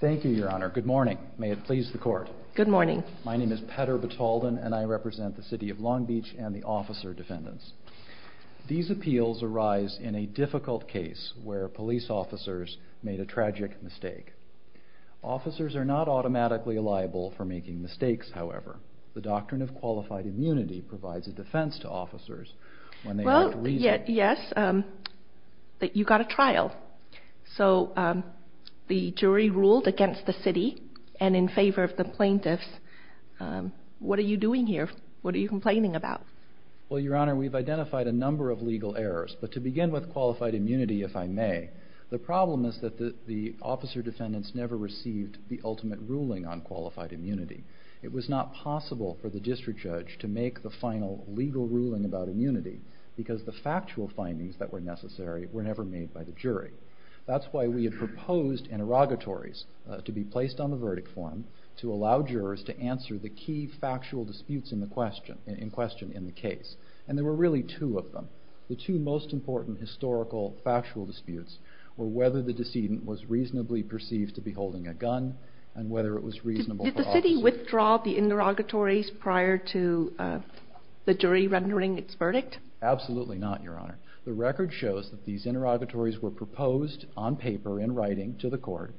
Thank you your honor. Good morning. May it please the court. Good morning. My name is Petter Batalden and I represent the City of Long Beach and the officer defendants. These appeals arise in a difficult case where police officers made a tragic mistake. Officers are not automatically liable for making mistakes however. The doctrine of qualified immunity provides a defense to the jury ruled against the city and in favor of the plaintiffs. What are you doing here? What are you complaining about? Well your honor we've identified a number of legal errors but to begin with qualified immunity if I may. The problem is that the officer defendants never received the ultimate ruling on qualified immunity. It was not possible for the district judge to make the final legal ruling about immunity because the factual findings that were necessary were never made by the jury. That's why we had proposed interrogatories to be placed on the verdict form to allow jurors to answer the key factual disputes in the question in question in the case and there were really two of them. The two most important historical factual disputes were whether the decedent was reasonably perceived to be holding a gun and whether it was reasonable. Did the city withdraw the interrogatories prior to the jury rendering its verdict? Absolutely not your honor. The record shows that these interrogatories were proposed on paper in writing to the court.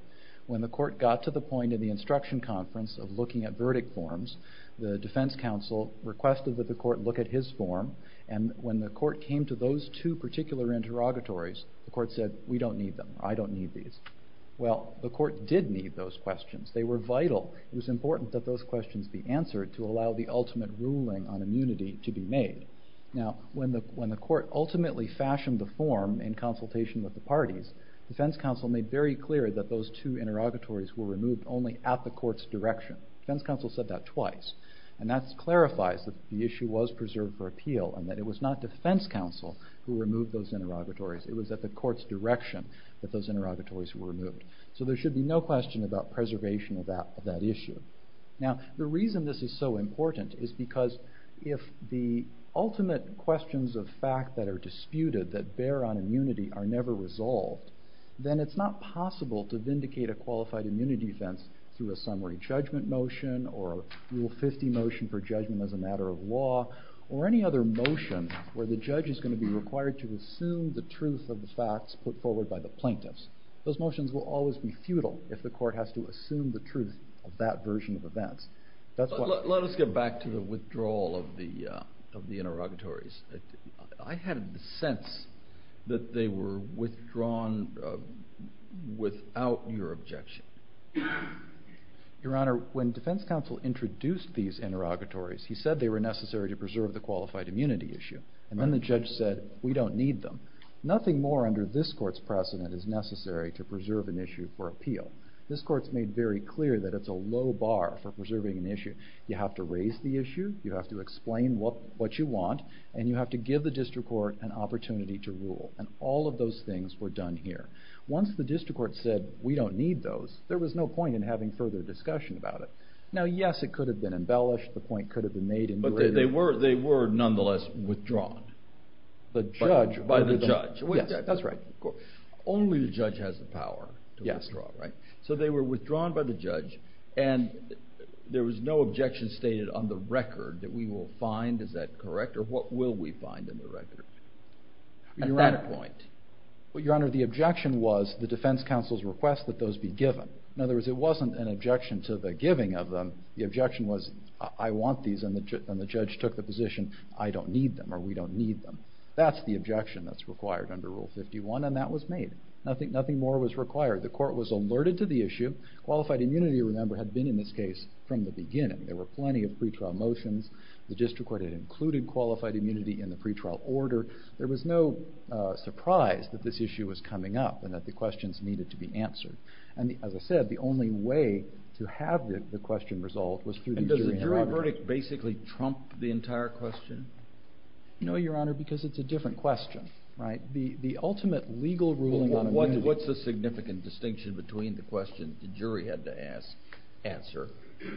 When the court got to the point in the instruction conference of looking at verdict forms the defense counsel requested that the court look at his form and when the court came to those two particular interrogatories the court said we don't need them. I don't need these. Well the court did need those questions. They were vital. It was important that those questions be answered to allow the Now when the court ultimately fashioned the form in consultation with the parties, defense counsel made very clear that those two interrogatories were removed only at the court's direction. Defense counsel said that twice and that clarifies that the issue was preserved for appeal and that it was not defense counsel who removed those interrogatories. It was at the court's direction that those interrogatories were removed. So there should be no question about preservation of that issue. Now the reason this is so is that if the ultimate questions of fact that are disputed that bear on immunity are never resolved then it's not possible to vindicate a qualified immunity defense through a summary judgment motion or a rule 50 motion for judgment as a matter of law or any other motion where the judge is going to be required to assume the truth of the facts put forward by the plaintiffs. Those motions will always be futile if the court has to assume the truth of that version of events. Let us get back to the withdrawal of the of the interrogatories. I had the sense that they were withdrawn without your objection. Your honor, when defense counsel introduced these interrogatories he said they were necessary to preserve the qualified immunity issue and then the judge said we don't need them. Nothing more under this court's precedent is necessary to preserve an issue for appeal. This court's made very clear that it's a low bar for preserving an issue. You have to raise the issue. You have to explain what what you want and you have to give the district court an opportunity to rule and all of those things were done here. Once the district court said we don't need those there was no point in having further discussion about it. Now yes it could have been embellished. The point could have been made. But they were they were nonetheless withdrawn. The judge by the judge. Yes that's right. Only the judge has the power. Yes. So they were withdrawn by the judge and there was no objection stated on the record that we will find. Is that correct or what will we find in the record? At that point. Well your honor the objection was the defense counsel's request that those be given. In other words it wasn't an objection to the giving of them. The objection was I want these and the judge took the position I don't need them or we don't need them. That's the objection that's required under Rule 51 and that was made. I think nothing more was required. The court was alerted to the issue. Qualified immunity remember had been in this case from the beginning. There were plenty of pre-trial motions. The district court had included qualified immunity in the pre-trial order. There was no surprise that this issue was coming up and that the questions needed to be answered. And as I said the only way to have the question resolved was through. And does the jury verdict basically trump the entire question? No your honor because it's a different question right. The the ultimate legal ruling. What's the significant distinction between the question the jury had to ask answer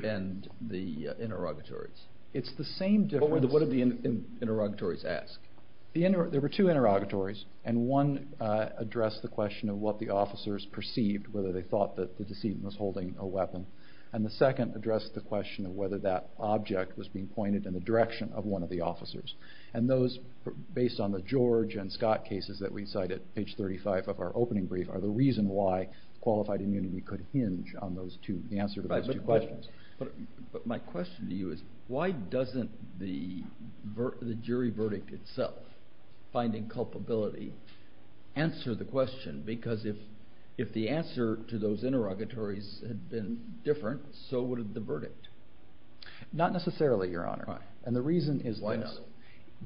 and the interrogatories? It's the same difference. What did the interrogatories ask? There were two interrogatories and one addressed the question of what the officers perceived whether they thought that the decedent was holding a weapon and the second addressed the question of whether that object was being pointed in the direction of one of the officers. And those based on the George and Scott cases that we cited page 35 of our opening brief are the reason why qualified immunity could hinge on those two. The answer to those two questions. But my question to you is why doesn't the jury verdict itself finding culpability answer the question because if if the answer to those interrogatories had been different so would the verdict? Not necessarily your honor. And the reason is why not?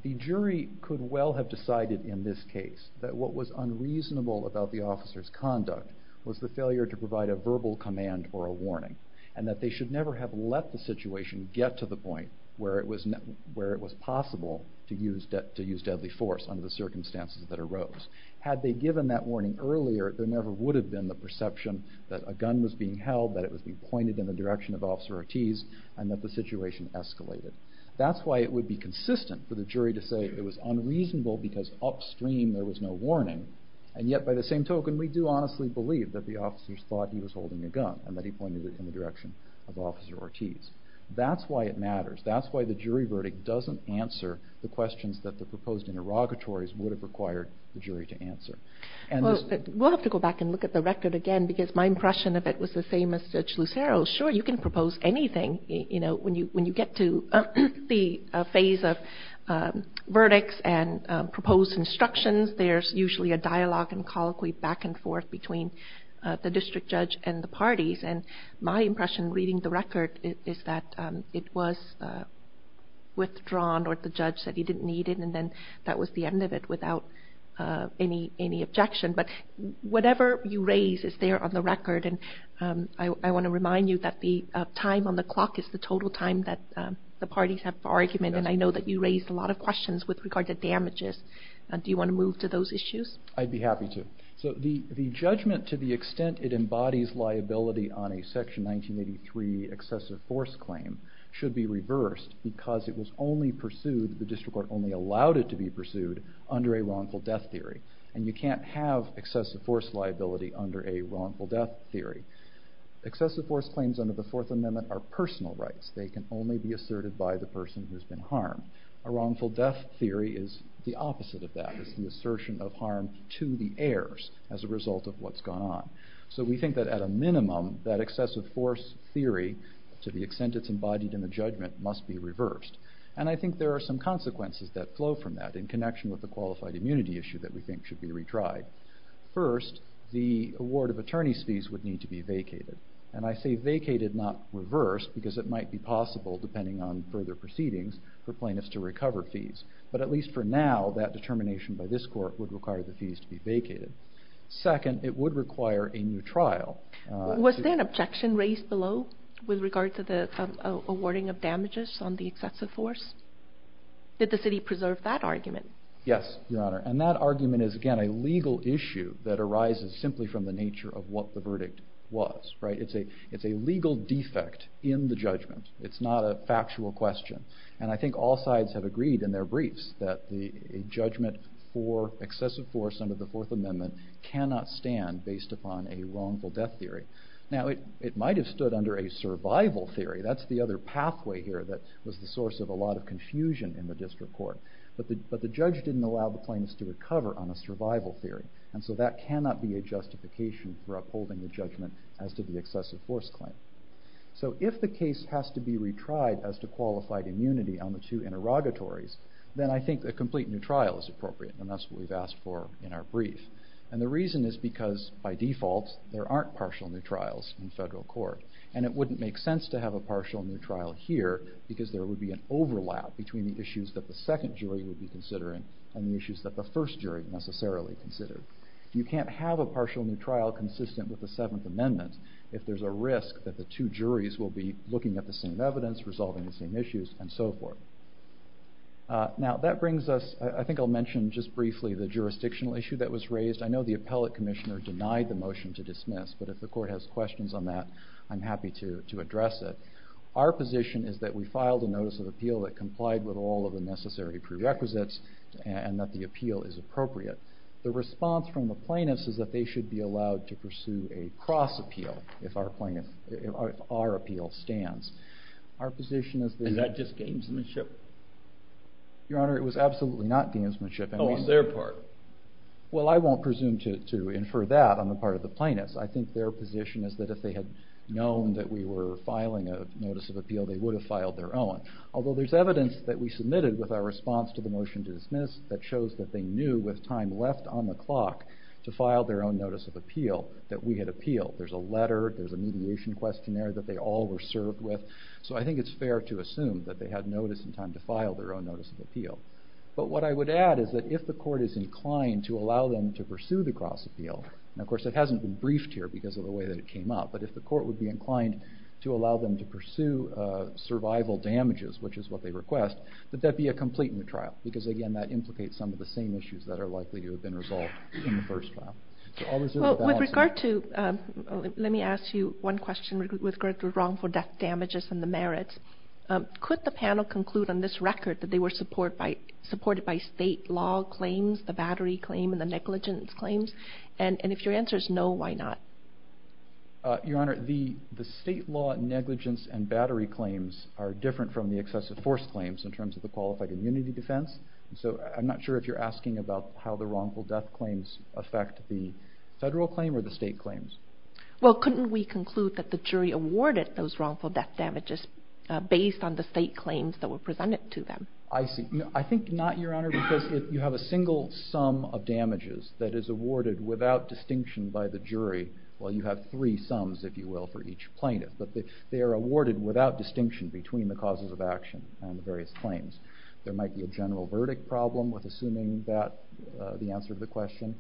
The jury could well have decided in this case that what was unreasonable about the officer's conduct was the failure to provide a verbal command or a warning and that they should never have left the situation get to the point where it was where it was possible to use that to use deadly force under the circumstances that arose. Had they given that warning earlier there never would have been the perception that a gun was being held that it was being pointed in the direction of officer Ortiz and that the situation escalated. That's why it would be consistent for the jury to say it was unreasonable because upstream there was no warning and yet by the same token we do honestly believe that the officers thought he was holding a gun and that he pointed it in the direction of officer Ortiz. That's why it matters. That's why the jury verdict doesn't answer the questions that the proposed interrogatories would have required the jury to answer. And we'll have to go back and look at the record again because my impression of it was the same as Judge Lucero. Sure you can propose anything you know when you when you get to the phase of verdicts and proposed instructions there's usually a dialogue and colloquy back and forth between the district judge and the parties and my impression reading the record is that it was withdrawn or the judge said he didn't need it and then that was the end of it without any any objection. But whatever you raise is there on the record and I want to remind you that the time on the you raised a lot of questions with regard to damages. Do you want to move to those issues? I'd be happy to. So the the judgment to the extent it embodies liability on a section 1983 excessive force claim should be reversed because it was only pursued the district court only allowed it to be pursued under a wrongful death theory and you can't have excessive force liability under a wrongful death theory. Excessive force claims under the Fourth Amendment are wrongful death theory is the opposite of that is the assertion of harm to the heirs as a result of what's gone on. So we think that at a minimum that excessive force theory to the extent it's embodied in the judgment must be reversed and I think there are some consequences that flow from that in connection with the qualified immunity issue that we think should be retried. First the award of attorneys fees would need to be vacated and I say vacated not reversed because it might be possible depending on further proceedings for plaintiffs to recover fees but at least for now that determination by this court would require the fees to be vacated. Second it would require a new trial. Was there an objection raised below with regard to the awarding of damages on the excessive force? Did the city preserve that argument? Yes your honor and that argument is again a legal issue that arises simply from the nature of what the verdict was right it's a it's a legal defect in the judgment it's not a factual question and I think all sides have agreed in their briefs that the judgment for excessive force under the Fourth Amendment cannot stand based upon a wrongful death theory. Now it it might have stood under a survival theory that's the other pathway here that was the source of a lot of confusion in the district court but the but the judge didn't allow the plaintiffs to recover on a survival theory and so that cannot be a justification for upholding the judgment as to the excessive force claim. So if the case has to be retried as to qualified immunity on the two interrogatories then I think a complete new trial is appropriate and that's what we've asked for in our brief and the reason is because by default there aren't partial new trials in federal court and it wouldn't make sense to have a partial new trial here because there would be an overlap between the issues that the second jury would be necessarily considered. You can't have a partial new trial consistent with the Seventh Amendment if there's a risk that the two juries will be looking at the same evidence resolving the same issues and so forth. Now that brings us I think I'll mention just briefly the jurisdictional issue that was raised I know the appellate commissioner denied the motion to dismiss but if the court has questions on that I'm happy to to address it. Our position is that we filed a notice of appeal that complied with all of the necessary prerequisites and that the appeal is appropriate. The response from the plaintiffs is that they should be allowed to pursue a cross appeal if our plaintiff our appeal stands. Our position is that... Is that just gamesmanship? Your honor it was absolutely not gamesmanship. Oh on their part? Well I won't presume to infer that on the part of the plaintiffs. I think their position is that if they had known that we were filing a notice of appeal they would have filed their own. Although there's evidence that we submitted with our response to the motion to dismiss that shows that they knew with time left on the clock to file their own notice of appeal that we had appealed. There's a letter, there's a mediation questionnaire that they all were served with so I think it's fair to assume that they had notice in time to file their own notice of appeal. But what I would add is that if the court is inclined to allow them to pursue the cross appeal and of course it hasn't been briefed here because of the way that it came up but if the court would be inclined to allow them to pursue survival damages which is what they request that that be a complete new trial because again that implicates some of the same issues that are likely to have been resolved in the first trial. With regard to... Let me ask you one question with regard to wrongful death damages and the merits. Could the panel conclude on this record that they were support by supported by state law claims the battery claim and the negligence claims and and if your answer is no why not? Your honor the the state law negligence and battery claims are different from the excessive force claims in terms of the qualified immunity defense so I'm not sure if you're asking about how the wrongful death claims affect the federal claim or the state claims. Well couldn't we conclude that the jury awarded those wrongful death damages based on the state claims that were presented to them? I see I think not your honor because if you have a single sum of damages that is awarded without distinction by the jury well you have three sums if you will for each plaintiff but they are awarded without distinction between the causes of action and the various claims. There might be a general verdict problem with assuming that the answer to the question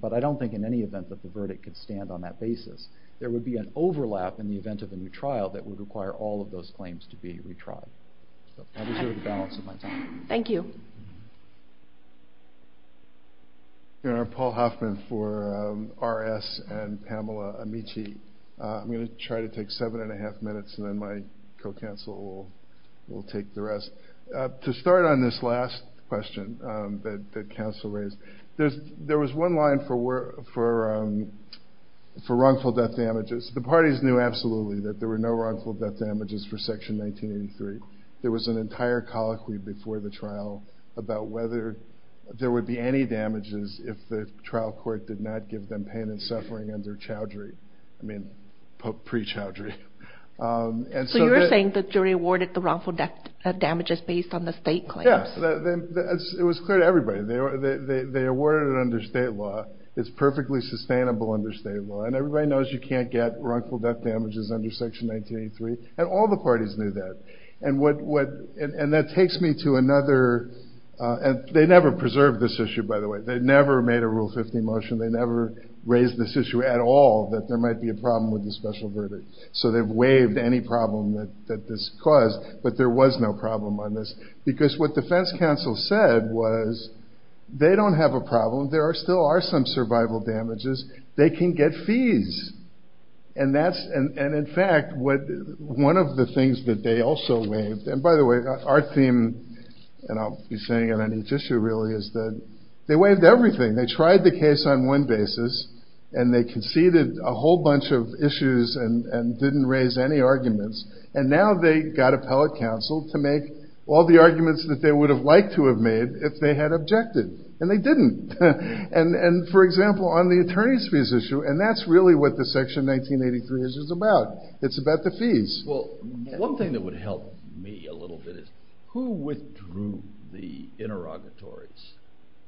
but I don't think in any event that the verdict could stand on that basis. There would be an overlap in the event of a new trial that would require all of those claims to be retried. Thank you. Your honor Paul Hoffman for RS and Pamela Amici. I'm going to try to take seven and a half minutes and then my co-counsel will take the rest. To start on this last question that counsel raised there's there was one line for where for for wrongful death damages the parties knew absolutely that there were no wrongful death damages for section 1983. There was an entire colloquy before the trial about whether there would be any damages if the trial court did not give them pain and suffering under chowdhury. I mean pre-chowdhury. So you're saying the jury awarded the wrongful death damages based on the state claims? Yes it was clear to everybody. They awarded it under state law. It's perfectly sustainable under state law and everybody knows you can't get wrongful death damages under section 1983 and all the parties knew that and what and that takes me to another and they never preserved this issue by the way they never made a rule 50 motion they never raised this issue at all that there might be a problem with the special verdict. So they've waived any problem that that this caused but there was no problem on this because what defense counsel said was they don't have a problem there are still are some survival damages they can get fees and that's and and in fact what one of the theme and I'll be saying it on each issue really is that they waived everything they tried the case on one basis and they conceded a whole bunch of issues and and didn't raise any arguments and now they got appellate counsel to make all the arguments that they would have liked to have made if they had objected and they didn't and and for example on the attorneys fees issue and that's really what the section 1983 is about it's about the fees. Well one thing that would help me a little bit is who withdrew the interrogatories?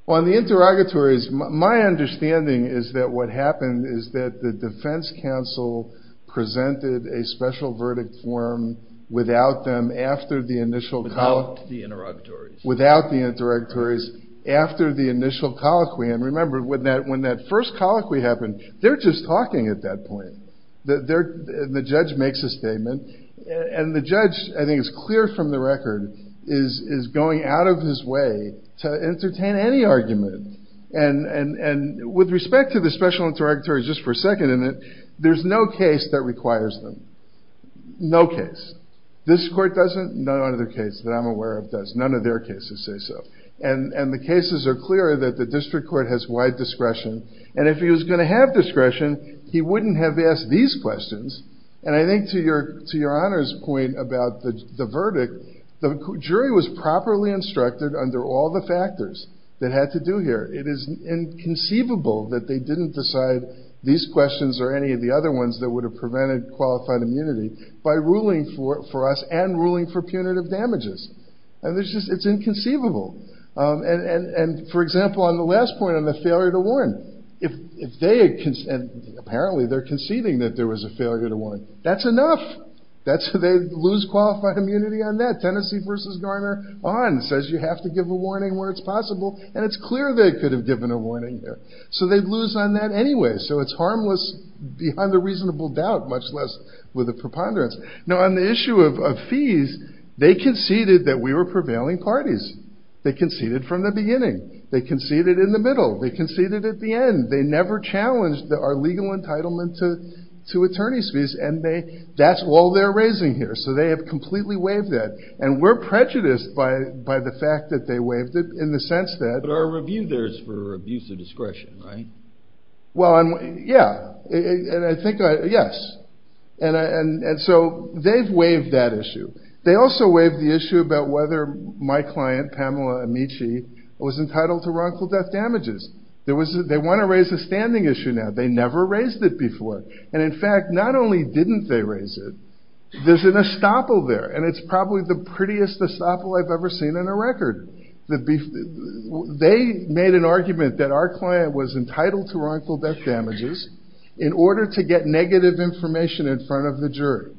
On the interrogatories my understanding is that what happened is that the defense counsel presented a special verdict form without them after the initial without the interrogatories without the interrogatories after the initial colloquy and remember with that when that first colloquy happened they're just talking at that point the judge makes a statement and the judge I think it's clear from the record is is going out of his way to entertain any argument and and and with respect to the special interrogatories just for a second in it there's no case that requires them no case this court doesn't no other case that I'm aware of does none of their cases say so and and the cases are clear that the district court has wide discretion and if he was going to have discretion he wouldn't have asked these questions and I think to your to your honors point about the verdict the jury was properly instructed under all the factors that had to do here it is inconceivable that they didn't decide these questions or any of the other ones that would have prevented qualified immunity by ruling for for us and ruling for punitive damages and there's just it's inconceivable and and for example on the last point on the failure to warn if if they had consent apparently they're conceding that there was a failure to one that's enough that's who they lose qualified immunity on that Tennessee versus Garner on says you have to give a warning where it's possible and it's clear they could have given a warning there so they'd lose on that anyway so it's harmless behind a reasonable doubt much less with a preponderance now on the issue of fees they conceded that we were prevailing parties they conceded from the beginning they conceded in the middle they conceded at the end they never challenged that our legal entitlement to two attorneys fees and they that's all they're raising here so they have completely waived it and we're prejudiced by by the fact that they waived it in the sense that our review there's for abuse of discretion right well and yeah and I think yes and and and so they've waived that issue they also waived the issue about whether my client Pamela Amici was entitled to damages there was they want to raise a standing issue now they never raised it before and in fact not only didn't they raise it there's an estoppel there and it's probably the prettiest estoppel I've ever seen in a record the beef they made an argument that our client was entitled to wrongful death damages in order to get negative information in front of the jury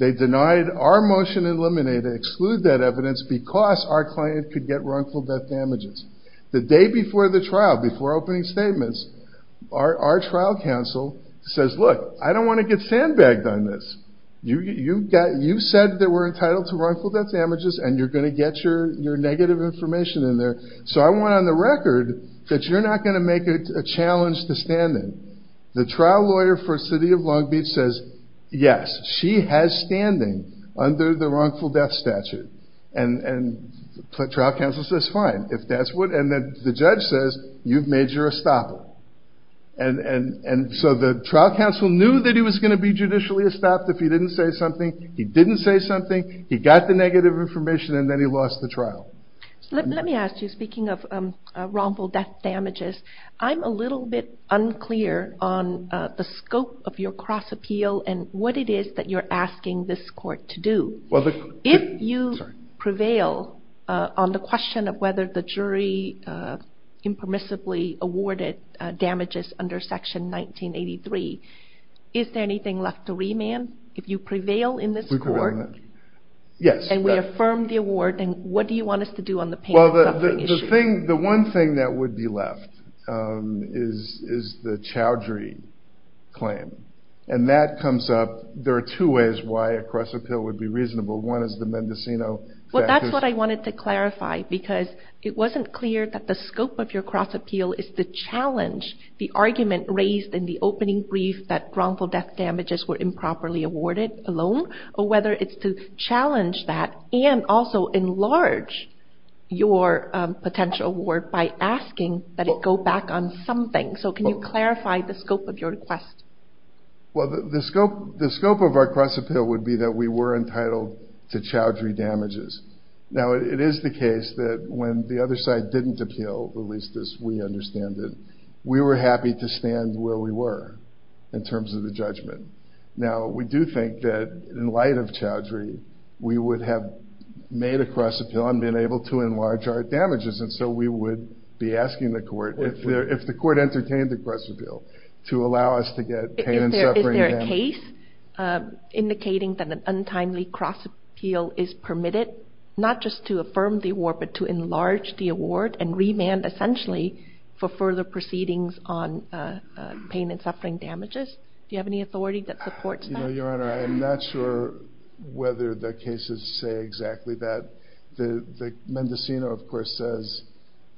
they denied our motion eliminated exclude that evidence because our client could get wrongful death damages the day before the trial before opening statements our trial counsel says look I don't want to get sandbagged on this you you got you said that we're entitled to wrongful death damages and you're going to get your your negative information in there so I want on the record that you're not going to make it a challenge to standing the trial lawyer for city of Long Beach says yes she has standing under the wrongful death statute and and trial counsel says fine if that's what and that the judge says you've made your estoppel and and and so the trial counsel knew that he was going to be judicially estopped if he didn't say something he didn't say something he got the negative information and then he lost the trial let me ask you speaking of wrongful death damages I'm a little bit unclear on the scope of your cross-appeal and what it is that you're asking this court to do well the if you prevail on the question of whether the jury impermissibly awarded damages under section 1983 is there anything left to remand if you prevail in this court yes and we affirm the award and what do you want us to do on the panel the thing the one thing that would be left is is the claim and that comes up there are two ways why a cross-appeal would be reasonable one is the Mendocino well that's what I wanted to clarify because it wasn't clear that the scope of your cross-appeal is the challenge the argument raised in the opening brief that wrongful death damages were improperly awarded alone or whether it's to challenge that and also enlarge your potential word by asking that it go back on something so can you clarify the scope of your request well the scope the scope of our cross-appeal would be that we were entitled to chowdhury damages now it is the case that when the other side didn't appeal at least as we understand it we were happy to stand where we were in terms of the judgment now we do think that in light of chowdhury we would have made a cross-appeal and been able to enlarge our damages and so we would be asking the court if the court entertained the cross-appeal to allow us to get a case indicating that an untimely cross-appeal is permitted not just to affirm the war but to enlarge the award and remand essentially for further proceedings on pain and suffering damages do you have any authority that supports your honor I'm not sure whether the cases say exactly that the Mendocino of course says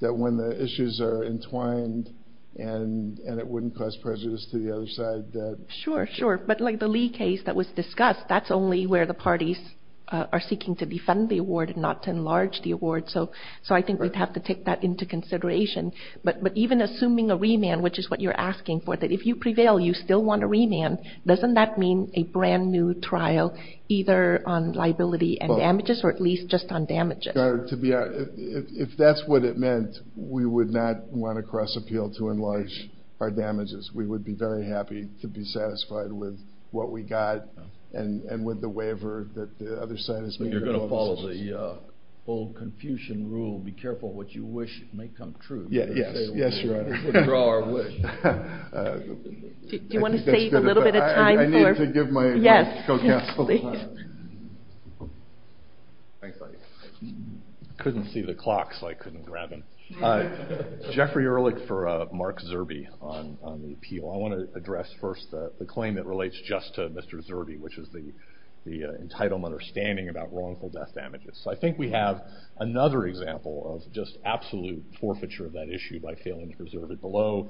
that when the issues are entwined and and it wouldn't cause prejudice to the other side that sure sure but like the Lee case that was discussed that's only where the parties are seeking to defend the award and not to enlarge the award so so I think we'd have to take that into consideration but but even assuming a remand which is what you're doesn't that mean a brand new trial either on liability and damages or at least just on damages to be if that's what it meant we would not want to cross-appeal to enlarge our damages we would be very happy to be satisfied with what we got and and with the waiver that the other side is but you're gonna fall as a old Confucian rule be careful what you wish may come true yeah yes you want to give my yes couldn't see the clocks I couldn't grab him Jeffrey Ehrlich for Mark Zerbe on the appeal I want to address first the claim that relates just to mr. Zerbe which is the the entitlement or standing about wrongful death damages so I think we have another example of just absolute forfeiture of that issue by failing to preserve it below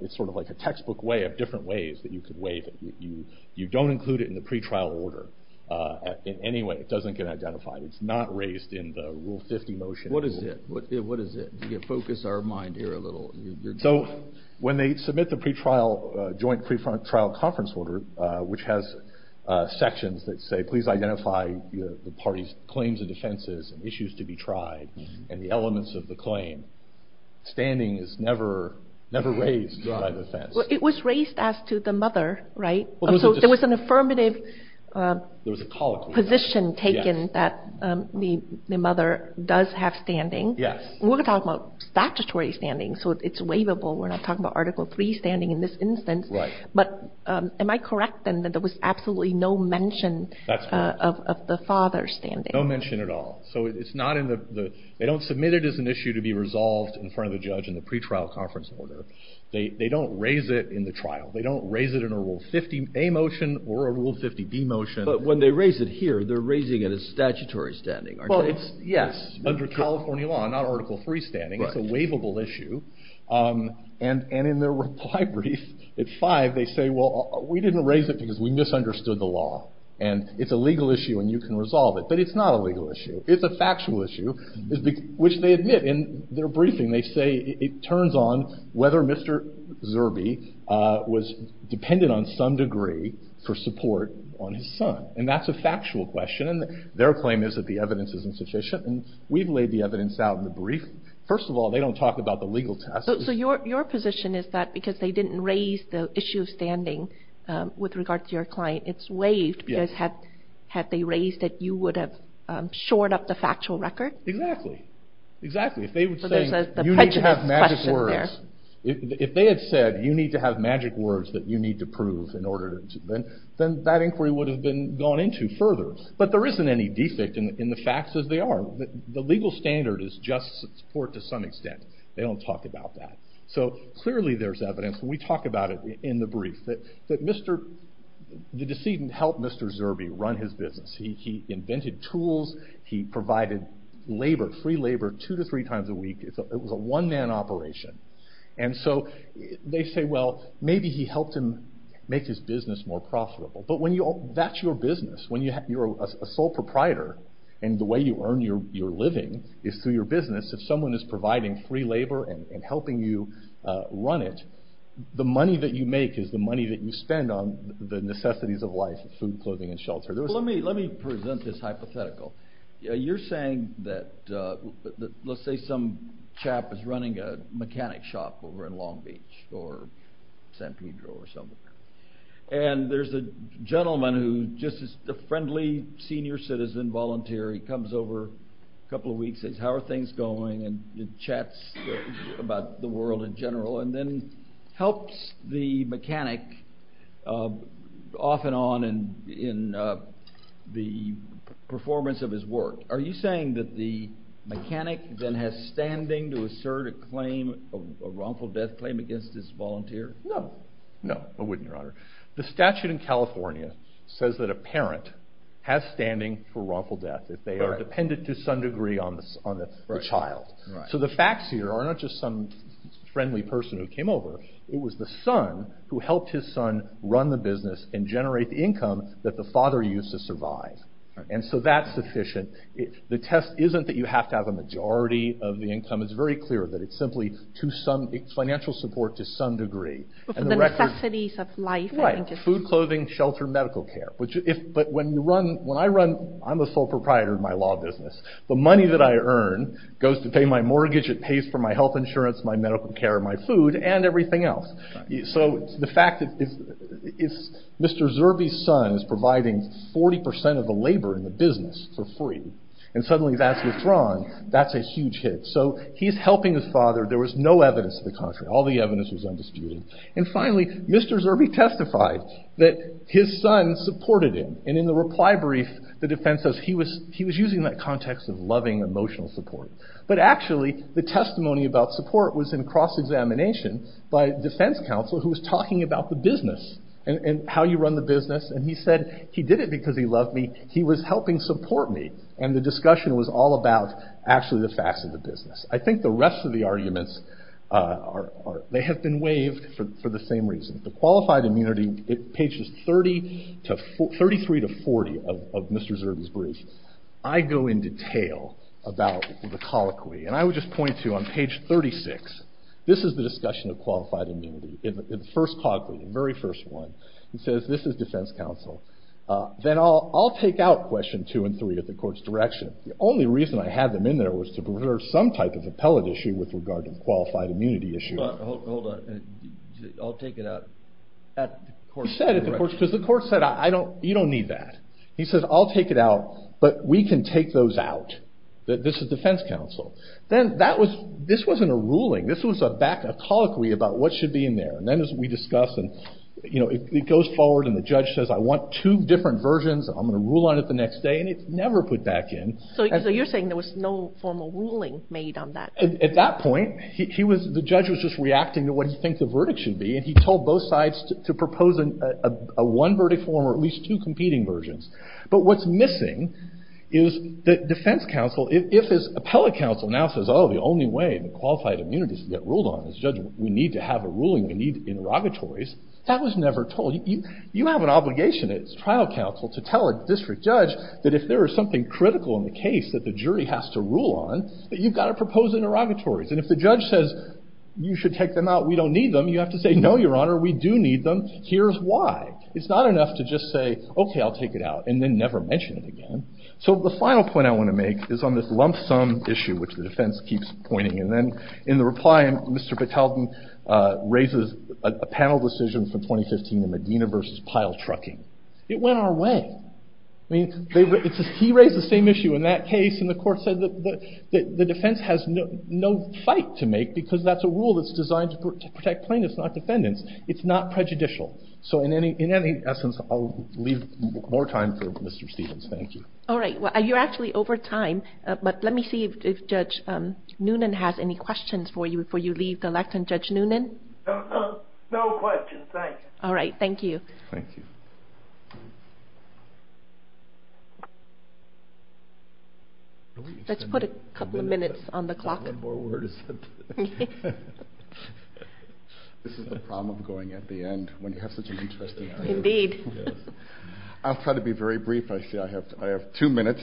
it's sort of like a textbook way different ways that you could wait you you don't include it in the pretrial order in any way it doesn't get identified it's not raised in the rule 50 motion what is it what what is it to get focus our mind here a little so when they submit the pretrial joint prefrontal trial conference order which has sections that say please identify the party's claims and defenses and issues to be tried and the elements of the claim standing is never never raised it was raised as to the mother right so there was an affirmative there was a call position taken that the mother does have standing yes we're talking about statutory standing so it's waivable we're not talking about article 3 standing in this instance right but am I correct and that there was absolutely no mention of the father standing no mention at all so it's not in the they don't submit it as an issue to be resolved in front of the judge in the they don't raise it in the trial they don't raise it in a rule fifty a motion or a rule fifty be motion but when they raise it here they're raising it is statutory standing well it's yes under california law not article three standing as a waivable issue and and in their reply brief it's five they say well we didn't raise it because we misunderstood the law and it's a legal issue and you can resolve it but it's not a legal issue it's a factual issue which they admit in their briefing they say it turns on whether Mr. Zerbe uh... was dependent on some degree for support on his son and that's a factual question and their claim is that the evidence is insufficient and we've laid the evidence out in the brief first of all they don't talk about the legal test so your position is that because they didn't raise the issue of standing uh... with regard to your client it's waived because had they raised it you would have shored up the factual record exactly exactly if they would say you need to have magic words if they had said you need to have magic words that you need to prove in order then that inquiry would have been gone into further but there isn't any defect in the facts as they are the legal standard is just support to some extent they don't talk about that so clearly there's evidence we talk about it in the brief that that Mr. the decedent helped Mr. Zerbe run his business he invented tools he provided labor free labor two to three times a week it was a one-man operation and so they say well maybe he helped him make his business more profitable but when you all that's your business when you're a sole proprietor and the way you earn your living is through your business if someone is providing free labor and helping you uh... run it the money that you make is the money that you spend on the necessities of life food clothing and shelter let me let me present this hypothetical you're saying that uh... let's say some chap is running a mechanic shop over in long beach san pedro or something and there's a gentleman who just is a friendly senior citizen volunteer he comes over a couple of weeks says how are things going and chats about the world in general and then helps the mechanic off and on and in uh... performance of his work are you saying that the mechanic then has standing to assert a claim of wrongful death claim against his volunteer no I wouldn't your honor the statute in california says that a parent has standing for wrongful death if they are dependent to some degree on the child to the facts here are just some friendly person who came over it was the son who helped his son run the business and generate income that the father used to survive and so that's sufficient the test isn't that you have to have a majority of the income is very clear that it's simply to some financial support to some degree and the necessities of life food clothing shelter medical care which if but when you run when i run i'm a sole proprietor of my law business the money that i earn goes to pay my mortgage it pays for my health insurance my medical care my food and everything else you so it's the fact that it's mister zurby's son is providing forty percent of the labor in the business for free and suddenly that's withdrawn that's a huge hit so he's helping his father there was no evidence of the contrary all the evidence was undisputed and finally mister zurby testified his son supported him and in the reply brief the defense says he was he was using that context of loving emotional support but actually the testimony about support was in cross-examination by defense counsel who was talking about the business and and how you run the business and he said he did it because he loved me he was helping support me and the discussion was all about actually the facts of the business i think the rest of the arguments uh... or or they have been waived for the same reason qualified immunity it thirty three to forty of of mister zurby's brief i'd go in detail about the colloquy and i would just point to you on page thirty six this is the discussion of qualified immunity in the first colloquy the very first one he says this is defense counsel uh... then i'll i'll take out question two and three at the court's direction only reason i had them in there was to preserve some type of appellate issue with regard to the qualified immunity issue i'll take it out he said at the court's direction you don't need that he said i'll take it out but we can take those out that this is defense counsel then that was this wasn't a ruling this was a back up colloquy about what should be in there and then as we discussed you know it goes forward and the judge says i want two different versions i'm gonna rule on it the next day and it's never put back in so you're saying there was no formal ruling made on that at that point he was the judge was just reacting to what he thinks the verdict should be and he told both sides to propose a one verdict form or at least two competing versions but what's missing is that defense counsel if his appellate counsel now says oh the only way the qualified immunity is to get ruled on is judge we need to have a ruling we need interrogatories that was never told you you have an obligation as trial counsel to tell a district judge that if there is something critical in the case that the jury has to rule on that you've got to propose interrogatories and if the judge says you should take them out we don't need them you have to say no your honor we do need them here's why it's not enough to just say okay i'll take it out and then never mention it again so the final point i want to make is on this lump sum issue which the defense keeps pointing and then in the reply mr patelton uh... raises a panel decision for twenty fifteen in medina versus pile trucking it went our way he raised the same issue in that case and the court said that that the defense has no fight to make because that's a rule that's designed to protect plaintiffs not defendants it's not prejudicial so in any in any essence i'll leave more time for mr stevens thank you alright well you're actually over time uh... but let me see if judge noonan has any questions for you before you leave the lectern judge noonan no questions thank you alright thank you thank you let's put a couple of minutes on the clock this is the problem going at the end when you have such an interesting item i'll try to be very brief i have two minutes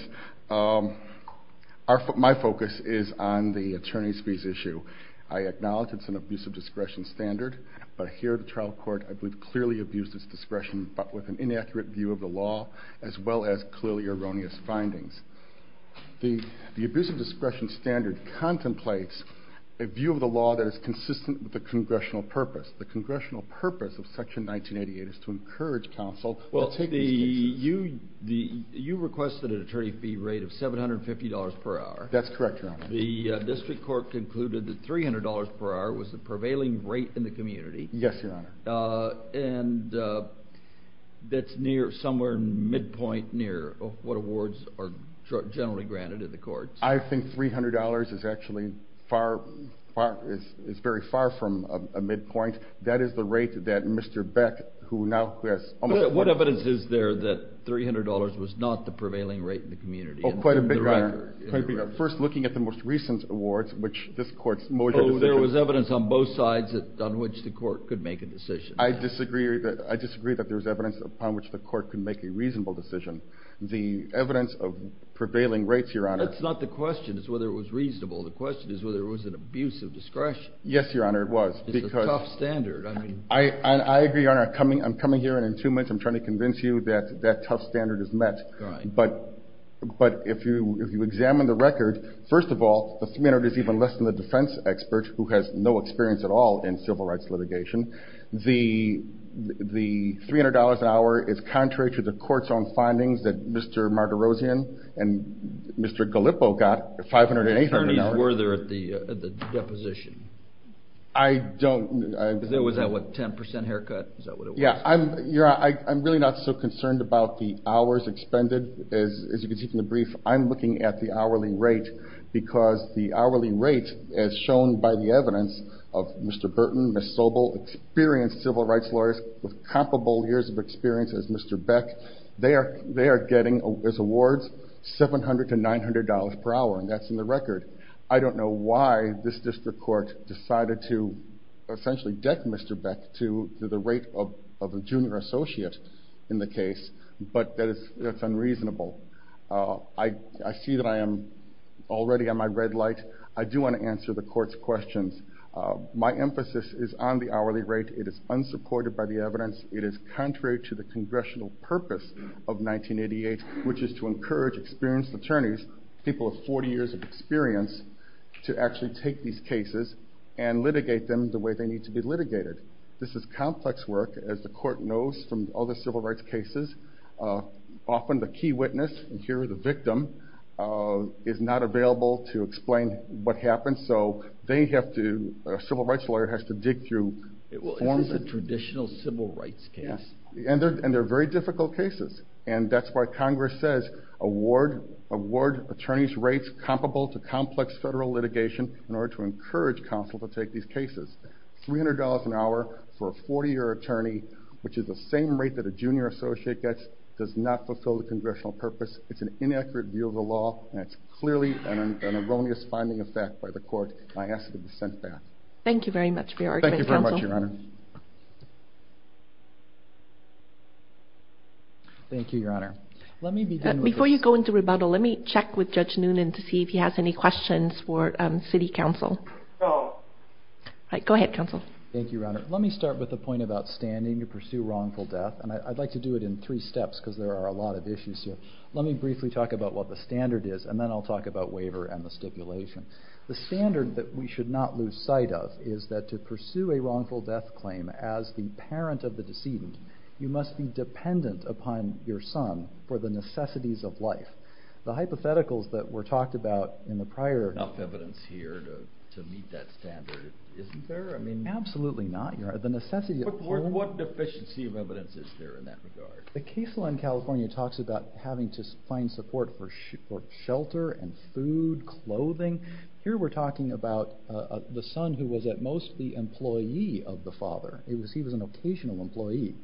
my focus is on the attorney's fees issue i acknowledge it's an abuse of discretion standard but here at the trial court i believe it clearly abuses discretion but with an inaccurate view of the law as well as clearly erroneous findings the abuse of discretion standard contemplates a view of the law that is consistent with the congressional purpose the congressional purpose of section nineteen eighty eight is to encourage counsel to take these cases you requested an attorney fee rate of seven hundred fifty dollars per hour that's correct your honor the district court concluded that three hundred dollars per hour was the prevailing rate in the community yes your honor uh... and uh... that's near somewhere midpoint near what awards are generally granted in the courts i think three hundred dollars is actually is very far from a midpoint that is the rate that mr beck who now has what evidence is there that three hundred dollars was not the prevailing rate in the community quite a bit your honor first looking at the most recent awards which this court's there was evidence on both sides that on which the court could make a decision i disagree that i disagree that there's evidence upon which the court could make a reasonable decision the evidence of prevailing rates your honor that's not the question is whether it was reasonable the question is whether it was an abuse of discretion yes your honor it was it's a tough standard i agree your honor i'm coming here in two minutes i'm trying to convince you that that tough standard is met but if you examine the record first of all the three hundred is even less than the defense expert who has no experience at all in civil rights litigation the the three hundred dollars an hour is contrary to the court's own findings that mr martirosian and mr galippo got five hundred and eight hundred were there at the deposition i don't know was that what ten percent haircut yeah i'm really not so concerned about the hours expended as you can see from the brief i'm looking at the hourly rate because the hourly rate as shown by the evidence of mr burton and miss sobel experienced civil rights lawyers with comparable years of experience as mr beck they are they are getting awards seven hundred to nine hundred dollars per hour and that's in the record i don't know why this district court decided to essentially deck mr beck to the rate of of a junior associate in the case but that is that's unreasonable uh... i i see that i am already on my red light i do want to answer the court's questions uh... my emphasis is on the hourly rate it is unsupported by the evidence it is contrary to the congressional purpose of nineteen eighty eight which is to encourage experienced attorneys people forty years of experience to actually take these cases and litigate them the way they need to be litigated this is complex work as the court knows from all the civil rights cases uh... often the key witness here the victim uh... is not available to explain what happened so they have to civil rights lawyer has to dig through forms of traditional civil rights case and they're very difficult cases and that's why congress says award award attorneys rates comparable to complex federal litigation in order to encourage counsel to take these cases three hundred dollars an hour for a forty year attorney which is the same rate that a junior associate gets does not fulfill the congressional purpose it's an inaccurate view of the law and it's clearly an erroneous finding of fact by the court and I ask that it be sent back thank you very much for your argument counsel thank you your honor let me begin with this before you go into rebuttal let me check with judge noonan to see if he has any questions for city council go ahead counsel thank you your honor let me start with the point about standing to pursue wrongful death and I'd like to do it in three steps because there are a lot of issues here let me briefly talk about what the standard is and then I'll talk about waiver and the stipulation the standard that we should not lose sight of is that to pursue a wrongful death claim as the parent of the decedent you must be dependent upon your son for the necessities of life the hypotheticals that were talked about in the prior enough evidence here to meet that standard isn't there I mean absolutely not the necessity of what deficiency of evidence is there in that regard the case law in california talks about having to find support for shelter and food clothing here we're talking about the son who was at most the employee of the father he was an occasional employee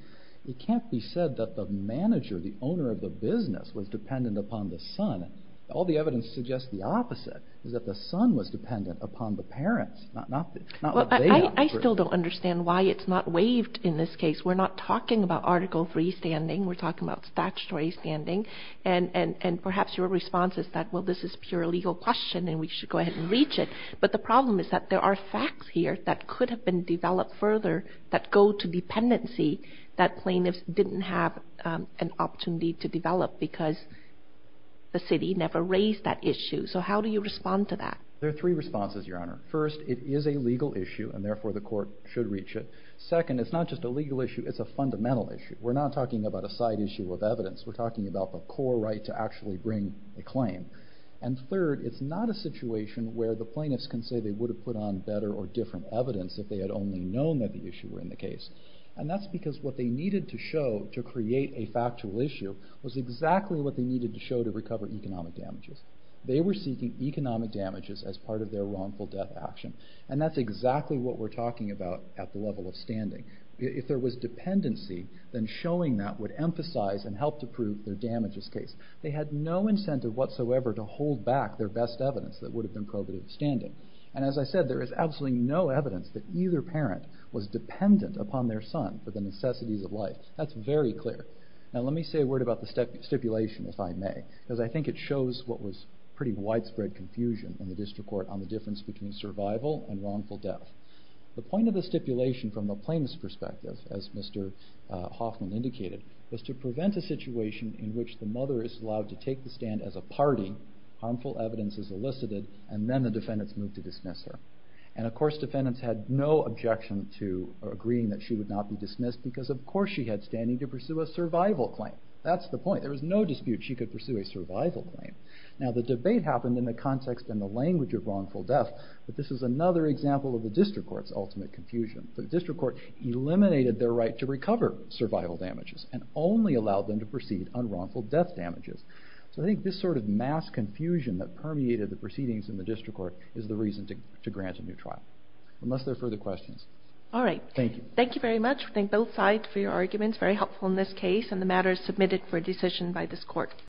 it can't be said that the manager the owner of the business was dependent upon the son all the evidence suggests the opposite is that the son was dependent upon the parents not what they have I still don't understand why it's not waived in this case we're not talking about article freestanding we're talking about statutory standing and perhaps your response is that well this is a pure legal question and we should go ahead and reach it but the problem is that there are facts here that could have been developed further that go to dependency that plaintiffs didn't have an opportunity to develop because the city never raised that issue so how do you respond to that there are three responses your honor first it is a legal issue and therefore the court should reach it second it's not just a legal issue it's a fundamental issue we're not talking about a side issue of evidence we're talking about the core right to actually bring a claim and third it's not a situation where the plaintiffs can say they would have put on better or different evidence if they had only known that the issue were in the case and that's because what they needed to show to create a factual issue was exactly what they needed to show to recover economic damages they were seeking economic damages as part of their wrongful death action and that's exactly what we're talking about at the level of standing if there was dependency then showing that would emphasize and help to prove their damages case they had no incentive whatsoever to hold back their best evidence that would have been probative standing and as i said there is absolutely no evidence that either parent was dependent upon their son for the necessities of life that's very clear now let me say a word about the stipulation if I may because I think it shows what was pretty widespread confusion in the district court on the difference between survival and wrongful death the point of the stipulation from the plaintiff's perspective as Mr. Hoffman indicated was to prevent a situation in which the mother is allowed to take the stand as a party harmful evidence is elicited and then the defendants move to dismiss her and of course defendants had no objection to agreeing that she would not be dismissed because of course she had standing to pursue a survival claim that's the point there was no dispute she could pursue a survival claim now the debate happened in the context and the language of wrongful death but this is another example of the district court's ultimate confusion the district court eliminated their right to recover survival damages and only allowed them to proceed on wrongful death damages so I think this sort of mass confusion that permeated the proceedings in the district court is the reason to grant a new trial unless there are further questions all right thank you very much thank both sides for your arguments very helpful in this case and the matter is submitted for decision by this court